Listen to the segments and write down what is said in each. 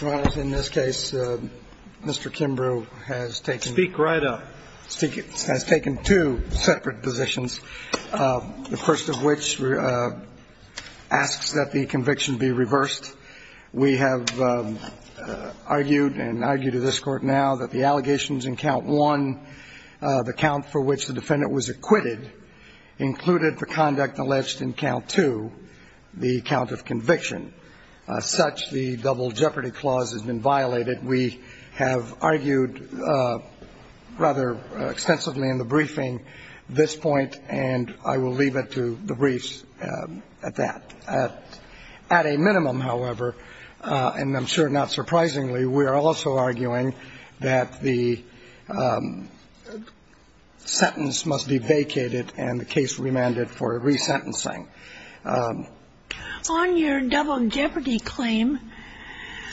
Well, in this case, Mr. Kimbrew has taken two separate positions, the first of which asks that the conviction be reversed. We have argued and argue to this Court now that the allegations in count one, the count for which the defendant was acquitted, included the double jeopardy clause has been violated. We have argued rather extensively in the briefing this point, and I will leave it to the briefs at that. At a minimum, however, and I'm sure not surprisingly, we are also arguing that the sentence must be vacated and the case remanded for resentencing. On your double jeopardy claim,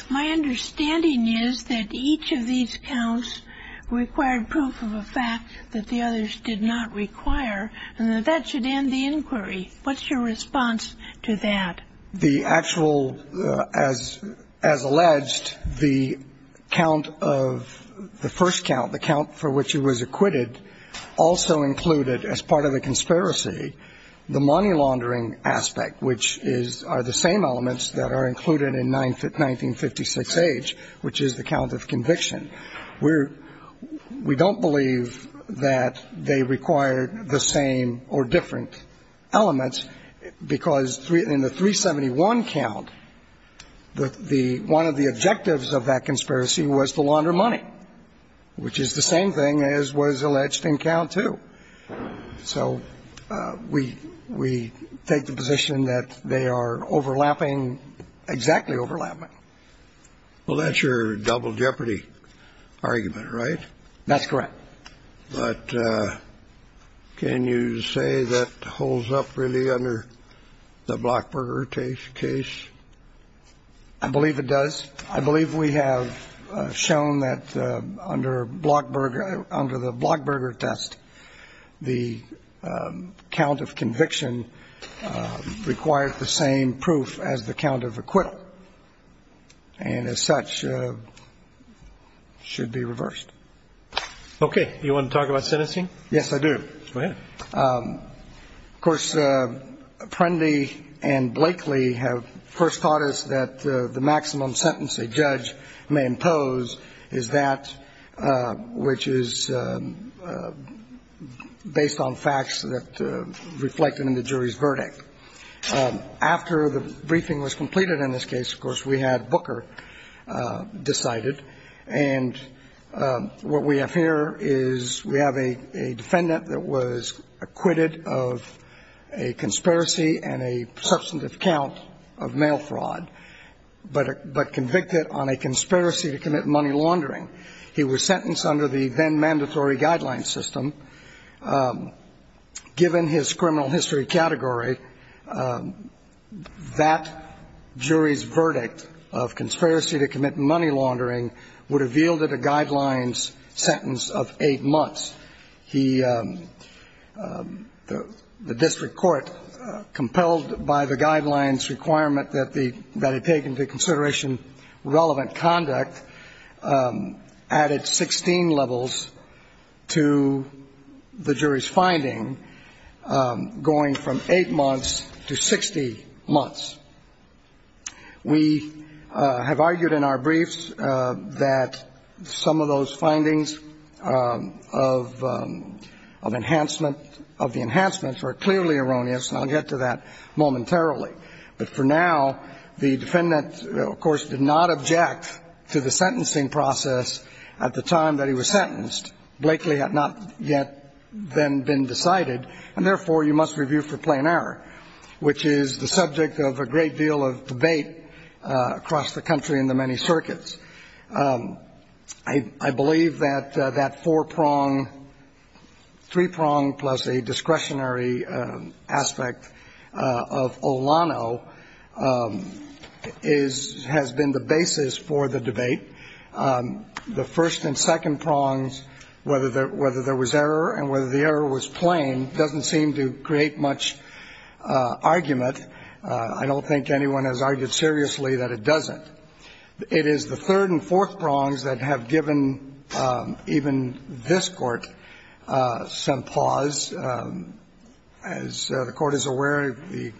my understanding is that each of these counts required proof of a fact that the others did not require, and that that should end the inquiry. What's your response to that? The actual, as alleged, the count of the first count, the count for which he was acquitted, also included as part of the conspiracy the money laundering aspect, which is the same elements that are included in 1956H, which is the count of conviction. We don't believe that they require the same or different elements, because in the 371 count, one of the objectives of that conspiracy was to launder money, which is the same thing as was alleged in count 2. So we take the position that they are overlapping, exactly overlapping. Well, that's your double jeopardy argument, right? That's correct. But can you say that holds up really under the Blockburger case? I believe it does. I believe we have shown that under the Blockburger test, the count of conviction requires the same proof as the count of acquittal, and as such should be reversed. Okay. Do you want to talk about sentencing? Yes, I do. Go ahead. Of course, Prundy and Blakely have first taught us that the maximum sentence a judge may impose is that which is based on facts that reflect in the jury's verdict. After the briefing was completed in this case, of course, we had Booker decided, and what we have here is we have a defendant that was acquitted of a conspiracy and a substantive count of mail fraud, but convicted on a conspiracy to commit money laundering. He was sentenced under the then-mandatory guideline system. Given his criminal history category, that jury's verdict of conspiracy to commit money laundering would have yielded a guidelines sentence of eight months. The district court, compelled by the guidelines requirement that it take into consideration relevant conduct, added 16 levels to the jury's finding, going from eight months to 60 months. We have argued in our briefs that some of those findings of enhancement, of the enhancements, are clearly erroneous, and I'll get to that momentarily. But for now, the defendant, of course, did not object to the sentencing process at the time that he was sentenced. Blakely had not yet then been decided, and therefore, you must review for plain error, which is the subject of a great deal of debate across the country in the many circuits. I believe that that four-prong, three-prong plus a discretionary aspect of O'Connor's has been the basis for the debate. The first and second prongs, whether there was error and whether the error was plain, doesn't seem to create much argument. I don't think anyone has argued seriously that it doesn't. It is the third and fourth prongs that have given even this Court some pause. As the Court is aware, the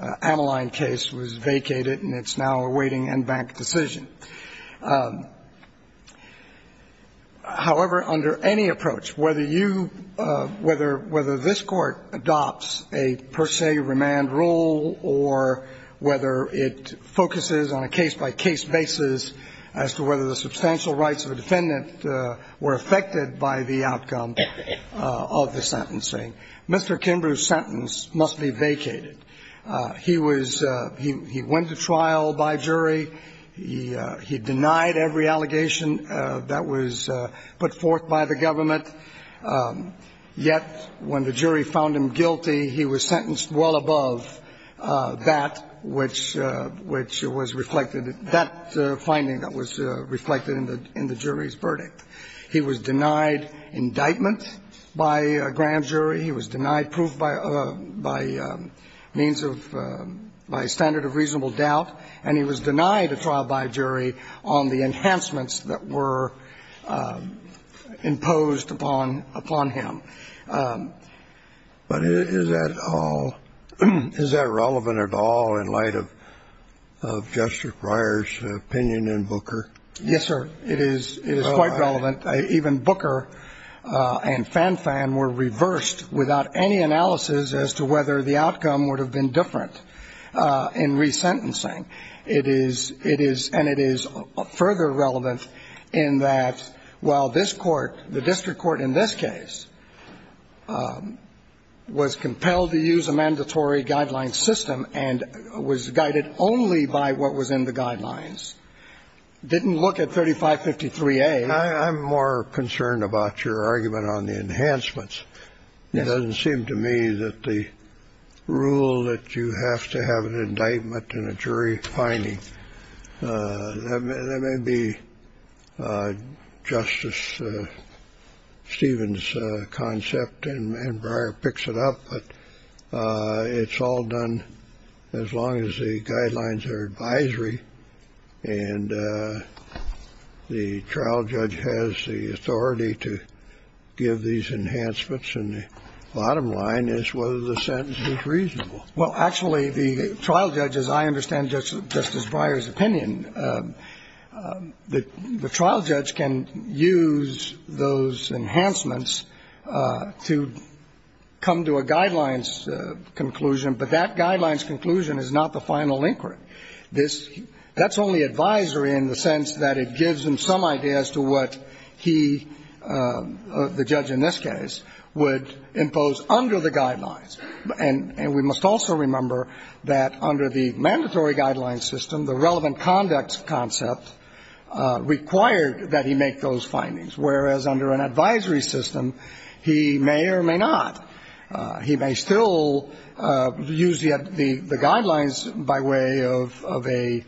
Ameline case was vacated, and it's now awaiting en banc decision. However, under any approach, whether you – whether this Court adopts a per se remand rule or whether it focuses on a case-by-case basis as to whether the substantial rights of a defendant were affected by the outcome of the sentence, Mr. Kimbrough's sentence must be vacated. He was – he went to trial by jury. He denied every allegation that was put forth by the government, yet when the jury found him guilty, he was sentenced well above that, which was reflected – that finding that was reflected in the jury's verdict. He was denied indictment by a grand jury. He was denied proof by means of – by a standard of reasonable doubt. And he was denied a trial by jury on the enhancements that were imposed upon him. But is that all – is that relevant at all in light of Justice Breyer's opinion in Booker? Yes, sir. It is – it is quite relevant. Even Booker and Fan Fan were reversed without any analysis as to whether the outcome would have been different in resentencing. It is – it is – and it is further relevant in that while this Court, the district court in this case, was compelled to use a mandatory guideline system and was guided only by what was in the guidelines, didn't look at 3553A. I'm more concerned about your argument on the enhancements. Yes. It doesn't seem to me that the rule that you have to have an indictment and a jury finding, that may be Justice Stevens' concept and Breyer picks it up, but it's all done, as long as the guidelines are advisory and the trial judge has the authority to give these enhancements. And the bottom line is whether the sentence is reasonable. Well, actually, the trial judge, as I understand Justice Breyer's opinion, the trial judge can use those enhancements to come to a guidelines conclusion, but that guidelines conclusion is not the final inquiry. This – that's only advisory in the sense that it gives him some idea as to what he, the judge in this case, would impose under the guidelines. And we must also remember that under the mandatory guideline system, the relevant conduct concept required that he make those findings, whereas under an advisory system, he may or may not. He may still use the guidelines by way of a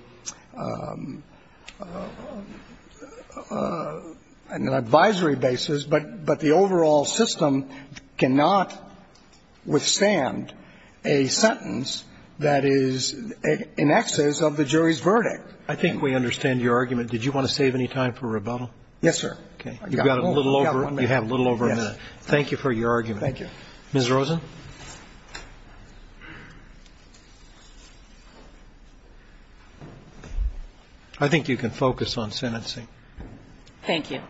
– an advisory basis, but the overall system cannot withstand a sentence that is in excess of the jury's verdict. I think we understand your argument. Did you want to save any time for rebuttal? Yes, sir. Okay. You've got a little over a minute. Thank you for your argument. Ms. Rosen. I think you can focus on sentencing. Thank you.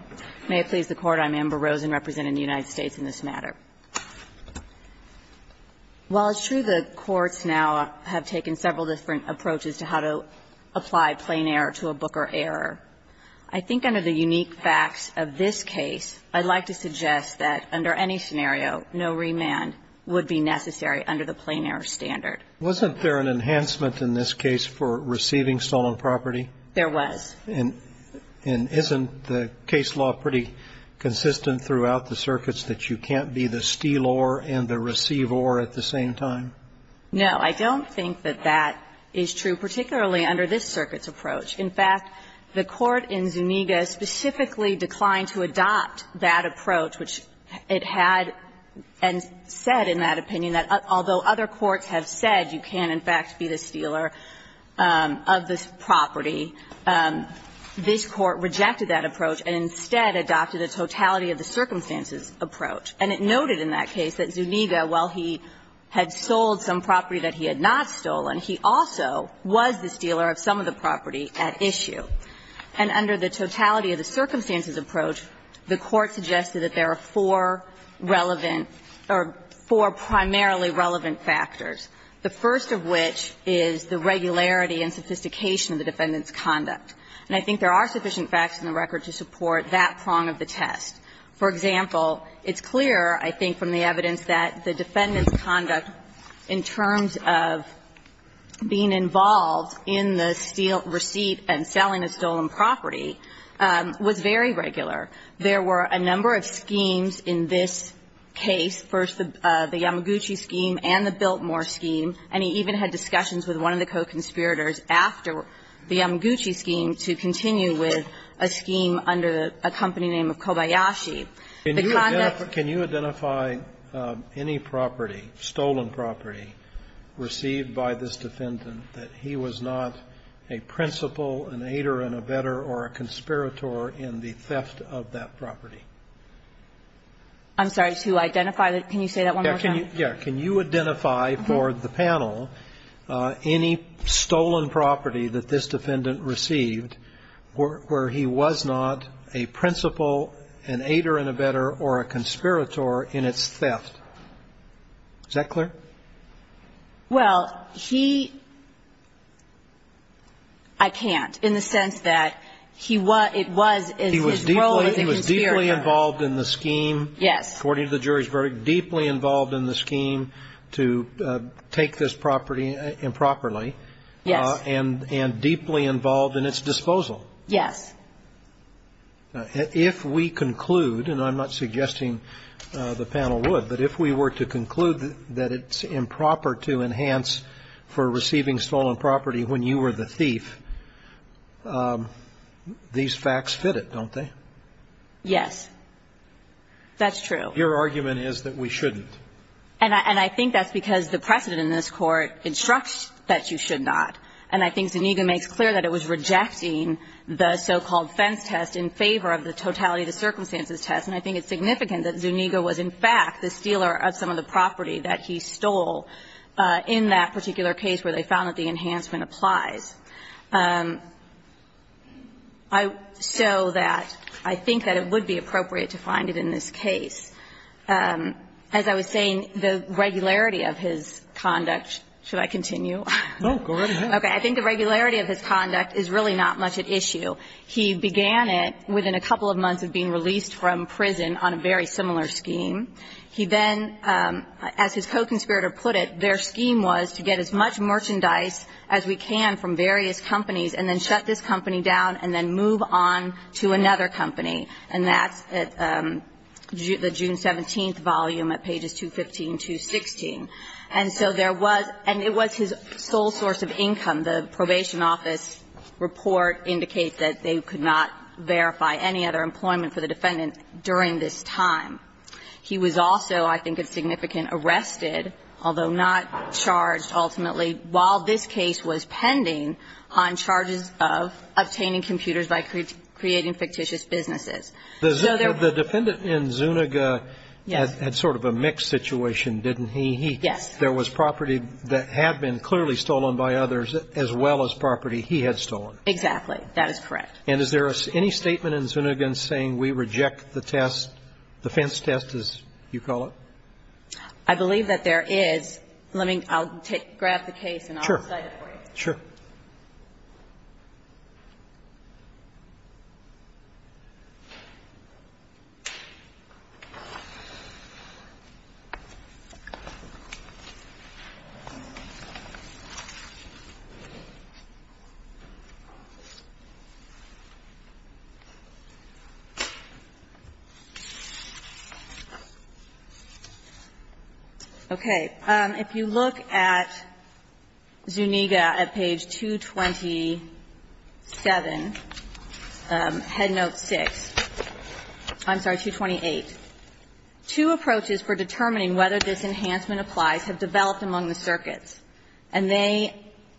May it please the Court. I'm Amber Rosen, representing the United States in this matter. While it's true the courts now have taken several different approaches to how to apply plain error to a Booker error, I think under the unique facts of this case, I'd like to suggest that under any scenario, no remand would be necessary under the plain error standard. Wasn't there an enhancement in this case for receiving stolen property? There was. And isn't the case law pretty consistent throughout the circuits that you can't be the steal-or and the receive-or at the same time? No, I don't think that that is true, particularly under this circuit's approach. In fact, the court in Zuniga specifically declined to adopt that approach, which it had and said in that opinion that although other courts have said you can't in fact be the stealer of this property, this Court rejected that approach and instead adopted a totality-of-the-circumstances approach. And it noted in that case that Zuniga, while he had sold some property that he had not stolen, he also was the stealer of some of the property at issue. And under the totality-of-the-circumstances approach, the court suggested that there are four relevant or four primarily relevant factors, the first of which is the regularity and sophistication of the defendant's conduct. And I think there are sufficient facts in the record to support that prong of the test. For example, it's clear, I think, from the evidence that the defendant's conduct of being involved in the receipt and selling a stolen property was very regular. There were a number of schemes in this case, first the Yamaguchi scheme and the Biltmore scheme, and he even had discussions with one of the co-conspirators after the Yamaguchi scheme to continue with a scheme under a company named Kobayashi. The conduct- Kennedy, can you identify any property, stolen property, received by this defendant that he was not a principal, an aider, an abetter, or a conspirator in the theft of that property? I'm sorry, to identify the can you say that one more time? Yes. Can you identify for the panel any stolen property that this defendant received by this defendant where he was not a principal, an aider, an abetter, or a conspirator in its theft? Is that clear? Well, he – I can't, in the sense that he was – it was his role as a conspirator. He was deeply involved in the scheme. Yes. According to the jury's verdict, deeply involved in the scheme to take this property improperly. Yes. And deeply involved in its disposal. Yes. If we conclude, and I'm not suggesting the panel would, but if we were to conclude that it's improper to enhance for receiving stolen property when you were the thief, these facts fit it, don't they? Yes. That's true. Your argument is that we shouldn't. And I think that's because the precedent in this Court instructs that you should not. And I think Zuniga makes clear that it was rejecting the so-called fence test in favor of the totality of the circumstances test, and I think it's significant that Zuniga was in fact the stealer of some of the property that he stole in that particular case where they found that the enhancement applies. So that I think that it would be appropriate to find it in this case. As I was saying, the regularity of his conduct, should I continue? No. Go right ahead. Okay. I think the regularity of his conduct is really not much at issue. He began it within a couple of months of being released from prison on a very similar scheme. He then, as his co-conspirator put it, their scheme was to get as much merchandise as we can from various companies and then shut this company down and then move on to another company. And that's at the June 17th volume at pages 215 to 216. And so there was – and it was his sole source of income. The probation office report indicates that they could not verify any other employment for the defendant during this time. He was also, I think it's significant, arrested, although not charged ultimately, while this case was pending, on charges of obtaining computers by creating fictitious businesses. So there – The defendant in Zuniga had sort of a mixed situation, didn't he? Yes. There was property that had been clearly stolen by others as well as property he had stolen. Exactly. That is correct. And is there any statement in Zuniga saying we reject the test, the fence test, as you call it? I believe that there is. Let me – I'll grab the case and I'll cite it for you. Sure. Okay. If you look at Zuniga at page 227, head note 6 – I'm sorry, 228, two approaches for determining whether this enhancement applies have developed among the circuits, and they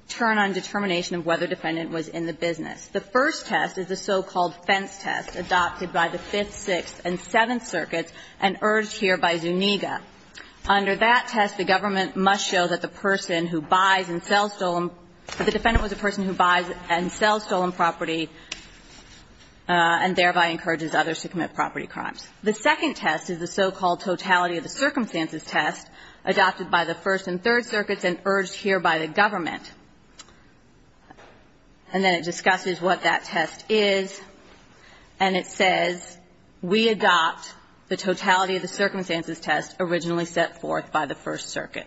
turn on determination of whether the defendant was in the business. The first test is the so-called fence test adopted by the Fifth, Sixth, and Seventh circuits and urged here by Zuniga. Under that test, the government must show that the person who buys and sells stolen – that the defendant was a person who buys and sells stolen property and thereby encourages others to commit property crimes. The second test is the so-called totality of the circumstances test adopted by the First and Third circuits and urged here by the government. And then it discusses what that test is, and it says we adopt the totality of the circumstances test that was originally set forth by the First circuit.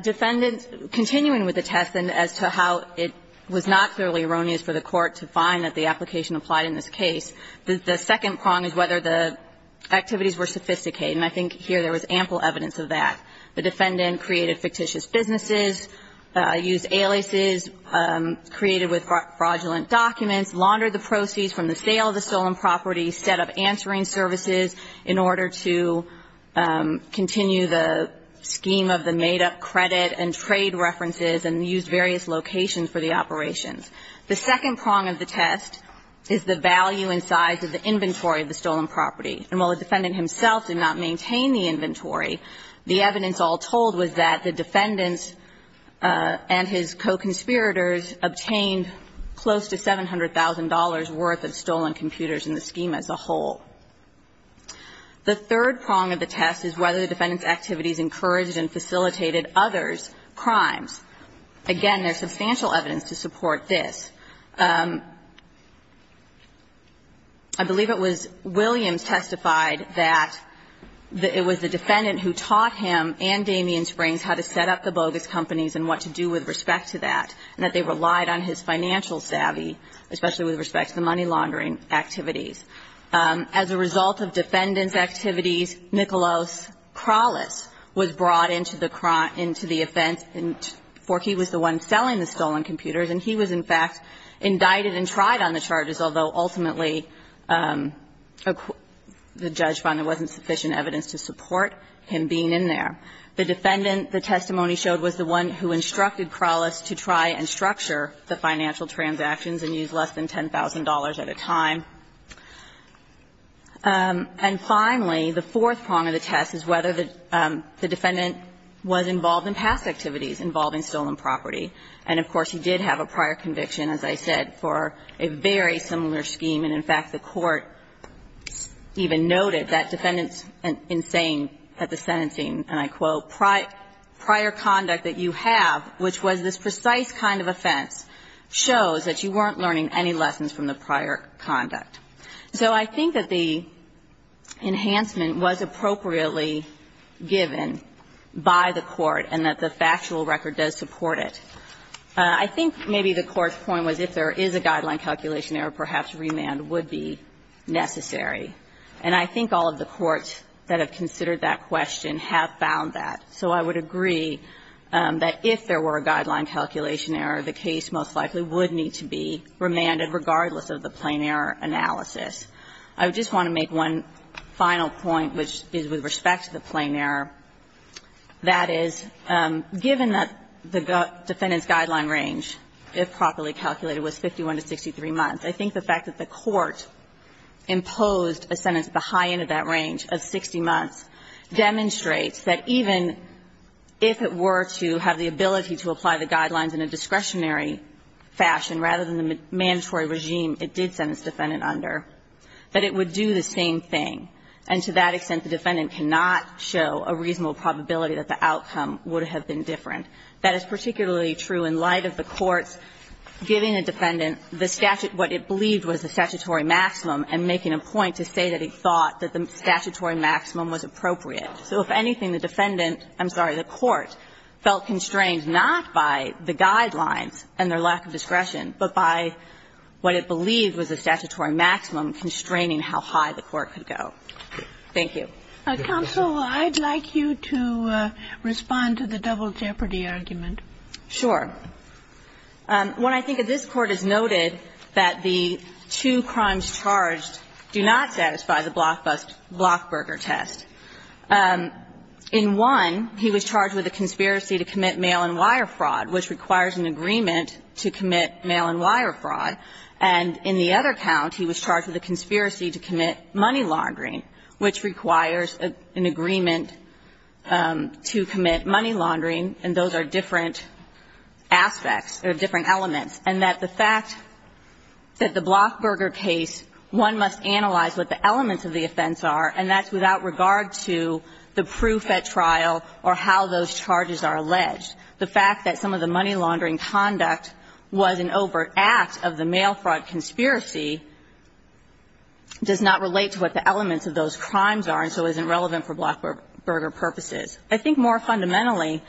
Defendants continuing with the test and as to how it was not clearly erroneous for the court to find that the application applied in this case, the second prong is whether the activities were sophisticated. And I think here there was ample evidence of that. The defendant created fictitious businesses, used aliases created with fraudulent documents, laundered the proceeds from the sale of the stolen property, set up answering services in order to continue the scheme of the made-up credit and trade references and used various locations for the operations. The second prong of the test is the value and size of the inventory of the stolen property. And while the defendant himself did not maintain the inventory, the evidence all told was that the defendants and his co-conspirators obtained close to $700,000 worth of stolen computers in the scheme as a whole. The third prong of the test is whether the defendant's activities encouraged and facilitated others' crimes. Again, there's substantial evidence to support this. I believe it was Williams testified that it was the defendant who taught him and the defendants how to set up the bogus companies and what to do with respect to that and that they relied on his financial savvy, especially with respect to the money laundering activities. As a result of defendants' activities, Nicholas Kralis was brought into the offense for he was the one selling the stolen computers, and he was, in fact, indicted and tried on the charges, although ultimately the judge found there wasn't sufficient evidence to support him being in there. The defendant, the testimony showed, was the one who instructed Kralis to try and structure the financial transactions and use less than $10,000 at a time. And finally, the fourth prong of the test is whether the defendant was involved in past activities involving stolen property. And of course, he did have a prior conviction, as I said, for a very similar scheme. And in fact, the Court even noted that defendants, in saying at the sentencing, and I quote, "...prior conduct that you have, which was this precise kind of offense, shows that you weren't learning any lessons from the prior conduct." So I think that the enhancement was appropriately given by the Court and that the factual record does support it. I think maybe the Court's point was if there is a guideline calculation error, perhaps remand would be necessary. And I think all of the courts that have considered that question have found that. So I would agree that if there were a guideline calculation error, the case most likely would need to be remanded regardless of the plain error analysis. I just want to make one final point, which is with respect to the plain error. That is, given that the defendant's guideline range, if properly calculated, was 51 to 63 months, I think the fact that the Court imposed a sentence at the high end of that range of 60 months demonstrates that even if it were to have the ability to apply the guidelines in a discretionary fashion rather than the mandatory regime it did send its defendant under, that it would do the same thing. And to that extent, the defendant cannot show a reasonable probability that the outcome would have been different. That is particularly true in light of the Court's giving a defendant the statute what it believed was the statutory maximum and making a point to say that it thought that the statutory maximum was appropriate. So if anything, the defendant – I'm sorry, the Court felt constrained not by the guidelines and their lack of discretion, but by what it believed was the statutory maximum constraining how high the Court could go. Thank you. Ginsburg. Counsel, I'd like you to respond to the double jeopardy argument. Sure. What I think of this Court is noted that the two crimes charged do not satisfy the Blockbuster – Blockburger test. In one, he was charged with a conspiracy to commit mail and wire fraud, which requires an agreement to commit mail and wire fraud. And in the other count, he was charged with a conspiracy to commit money laundering, which requires an agreement to commit money laundering, and those are different aspects or different elements. And that the fact that the Blockburger case, one must analyze what the elements of the offense are, and that's without regard to the proof at trial or how those charges are alleged. The fact that some of the money laundering conduct was an overt act of the mail fraud conspiracy does not relate to what the elements of those crimes are and so isn't relevant for Blockburger purposes. I think more fundamentally,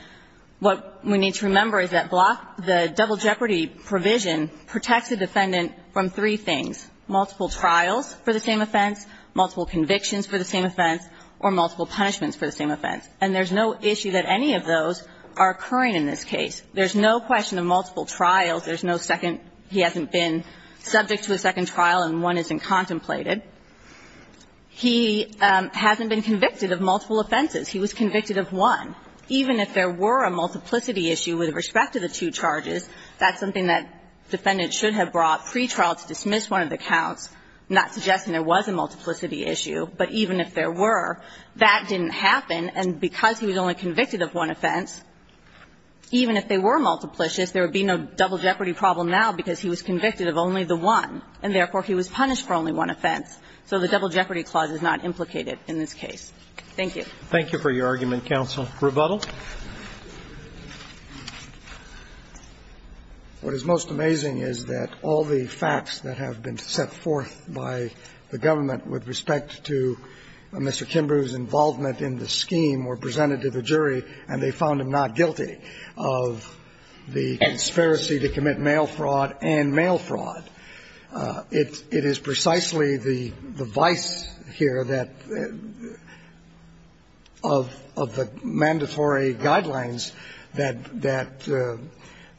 what we need to remember is that the double jeopardy provision protects the defendant from three things, multiple trials for the same offense, multiple convictions for the same offense, or multiple punishments for the same offense. And there's no issue that any of those are occurring in this case. There's no question of multiple trials. There's no second. He hasn't been subject to a second trial and one isn't contemplated. He hasn't been convicted of multiple offenses. He was convicted of one. Even if there were a multiplicity issue with respect to the two charges, that's something that defendants should have brought pretrial to dismiss one of the counts, not suggesting there was a multiplicity issue. But even if there were, that didn't happen. And because he was only convicted of one offense, even if they were multiplicious, there would be no double jeopardy problem now because he was convicted of only the one, and therefore he was punished for only one offense. So the double jeopardy clause is not implicated in this case. Thank you. Thank you for your argument, counsel. Rebuttal. What is most amazing is that all the facts that have been set forth by the government with respect to Mr. Kimbrough's involvement in the scheme were presented to the jury, and they found him not guilty of the conspiracy to commit mail fraud and mail fraud. It is precisely the vice here that of the mandatory guidelines that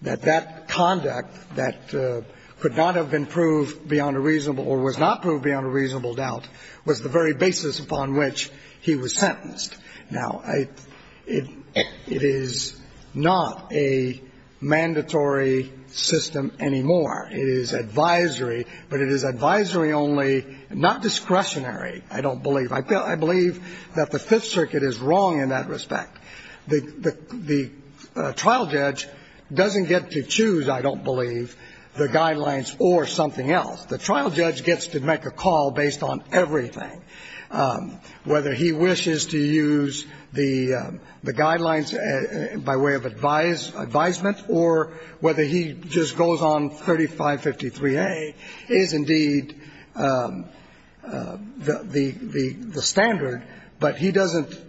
that conduct that could not have been proved beyond a reasonable or was not proved beyond a reasonable doubt was the very basis upon which he was sentenced. Now, it is not a mandatory system anymore. It is advisory, but it is advisory only, not discretionary, I don't believe. I believe that the Fifth Circuit is wrong in that respect. The trial judge doesn't get to choose, I don't believe, the guidelines or something else. The trial judge gets to make a call based on everything, whether he wishes to use the standard, but he doesn't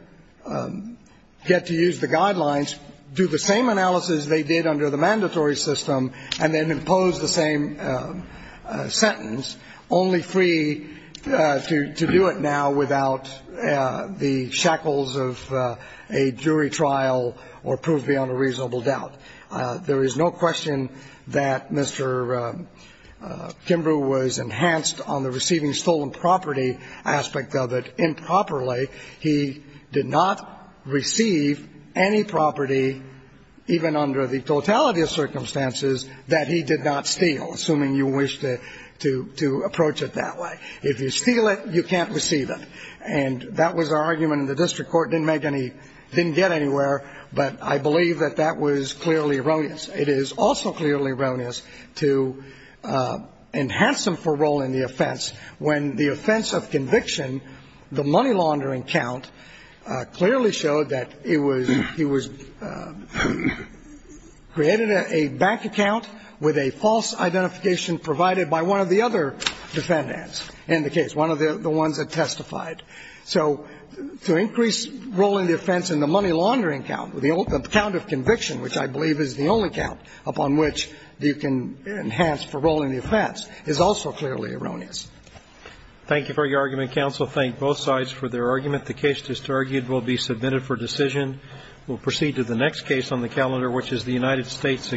get to use the guidelines, do the same analysis they did under the mandatory system, and then impose the same sentence, only free to do it now without the shackles of a jury trial or proved beyond a reasonable doubt. There is no question that Mr. Kimbrough was enhanced on the receiving stolen property aspect of it improperly. He did not receive any property, even under the totality of circumstances, that he did not steal, assuming you wish to approach it that way. If you steal it, you can't receive it. And that was our argument, and the district court didn't make any, didn't get anywhere, but I believe that that was clearly erroneous. It is also clearly erroneous to enhance him for role in the offense when the offense of conviction, the money laundering count, clearly showed that it was, he was created a bank account with a false identification provided by one of the other defendants in the case, one of the ones that testified. So to increase role in the offense in the money laundering count, the count of conviction, which I believe is the only count upon which you can enhance for role in the offense, is also clearly erroneous. Thank you for your argument, counsel. Thank both sides for their argument. The case just argued will be submitted for decision. We'll proceed to the next case on the calendar, which is the United States against the United States.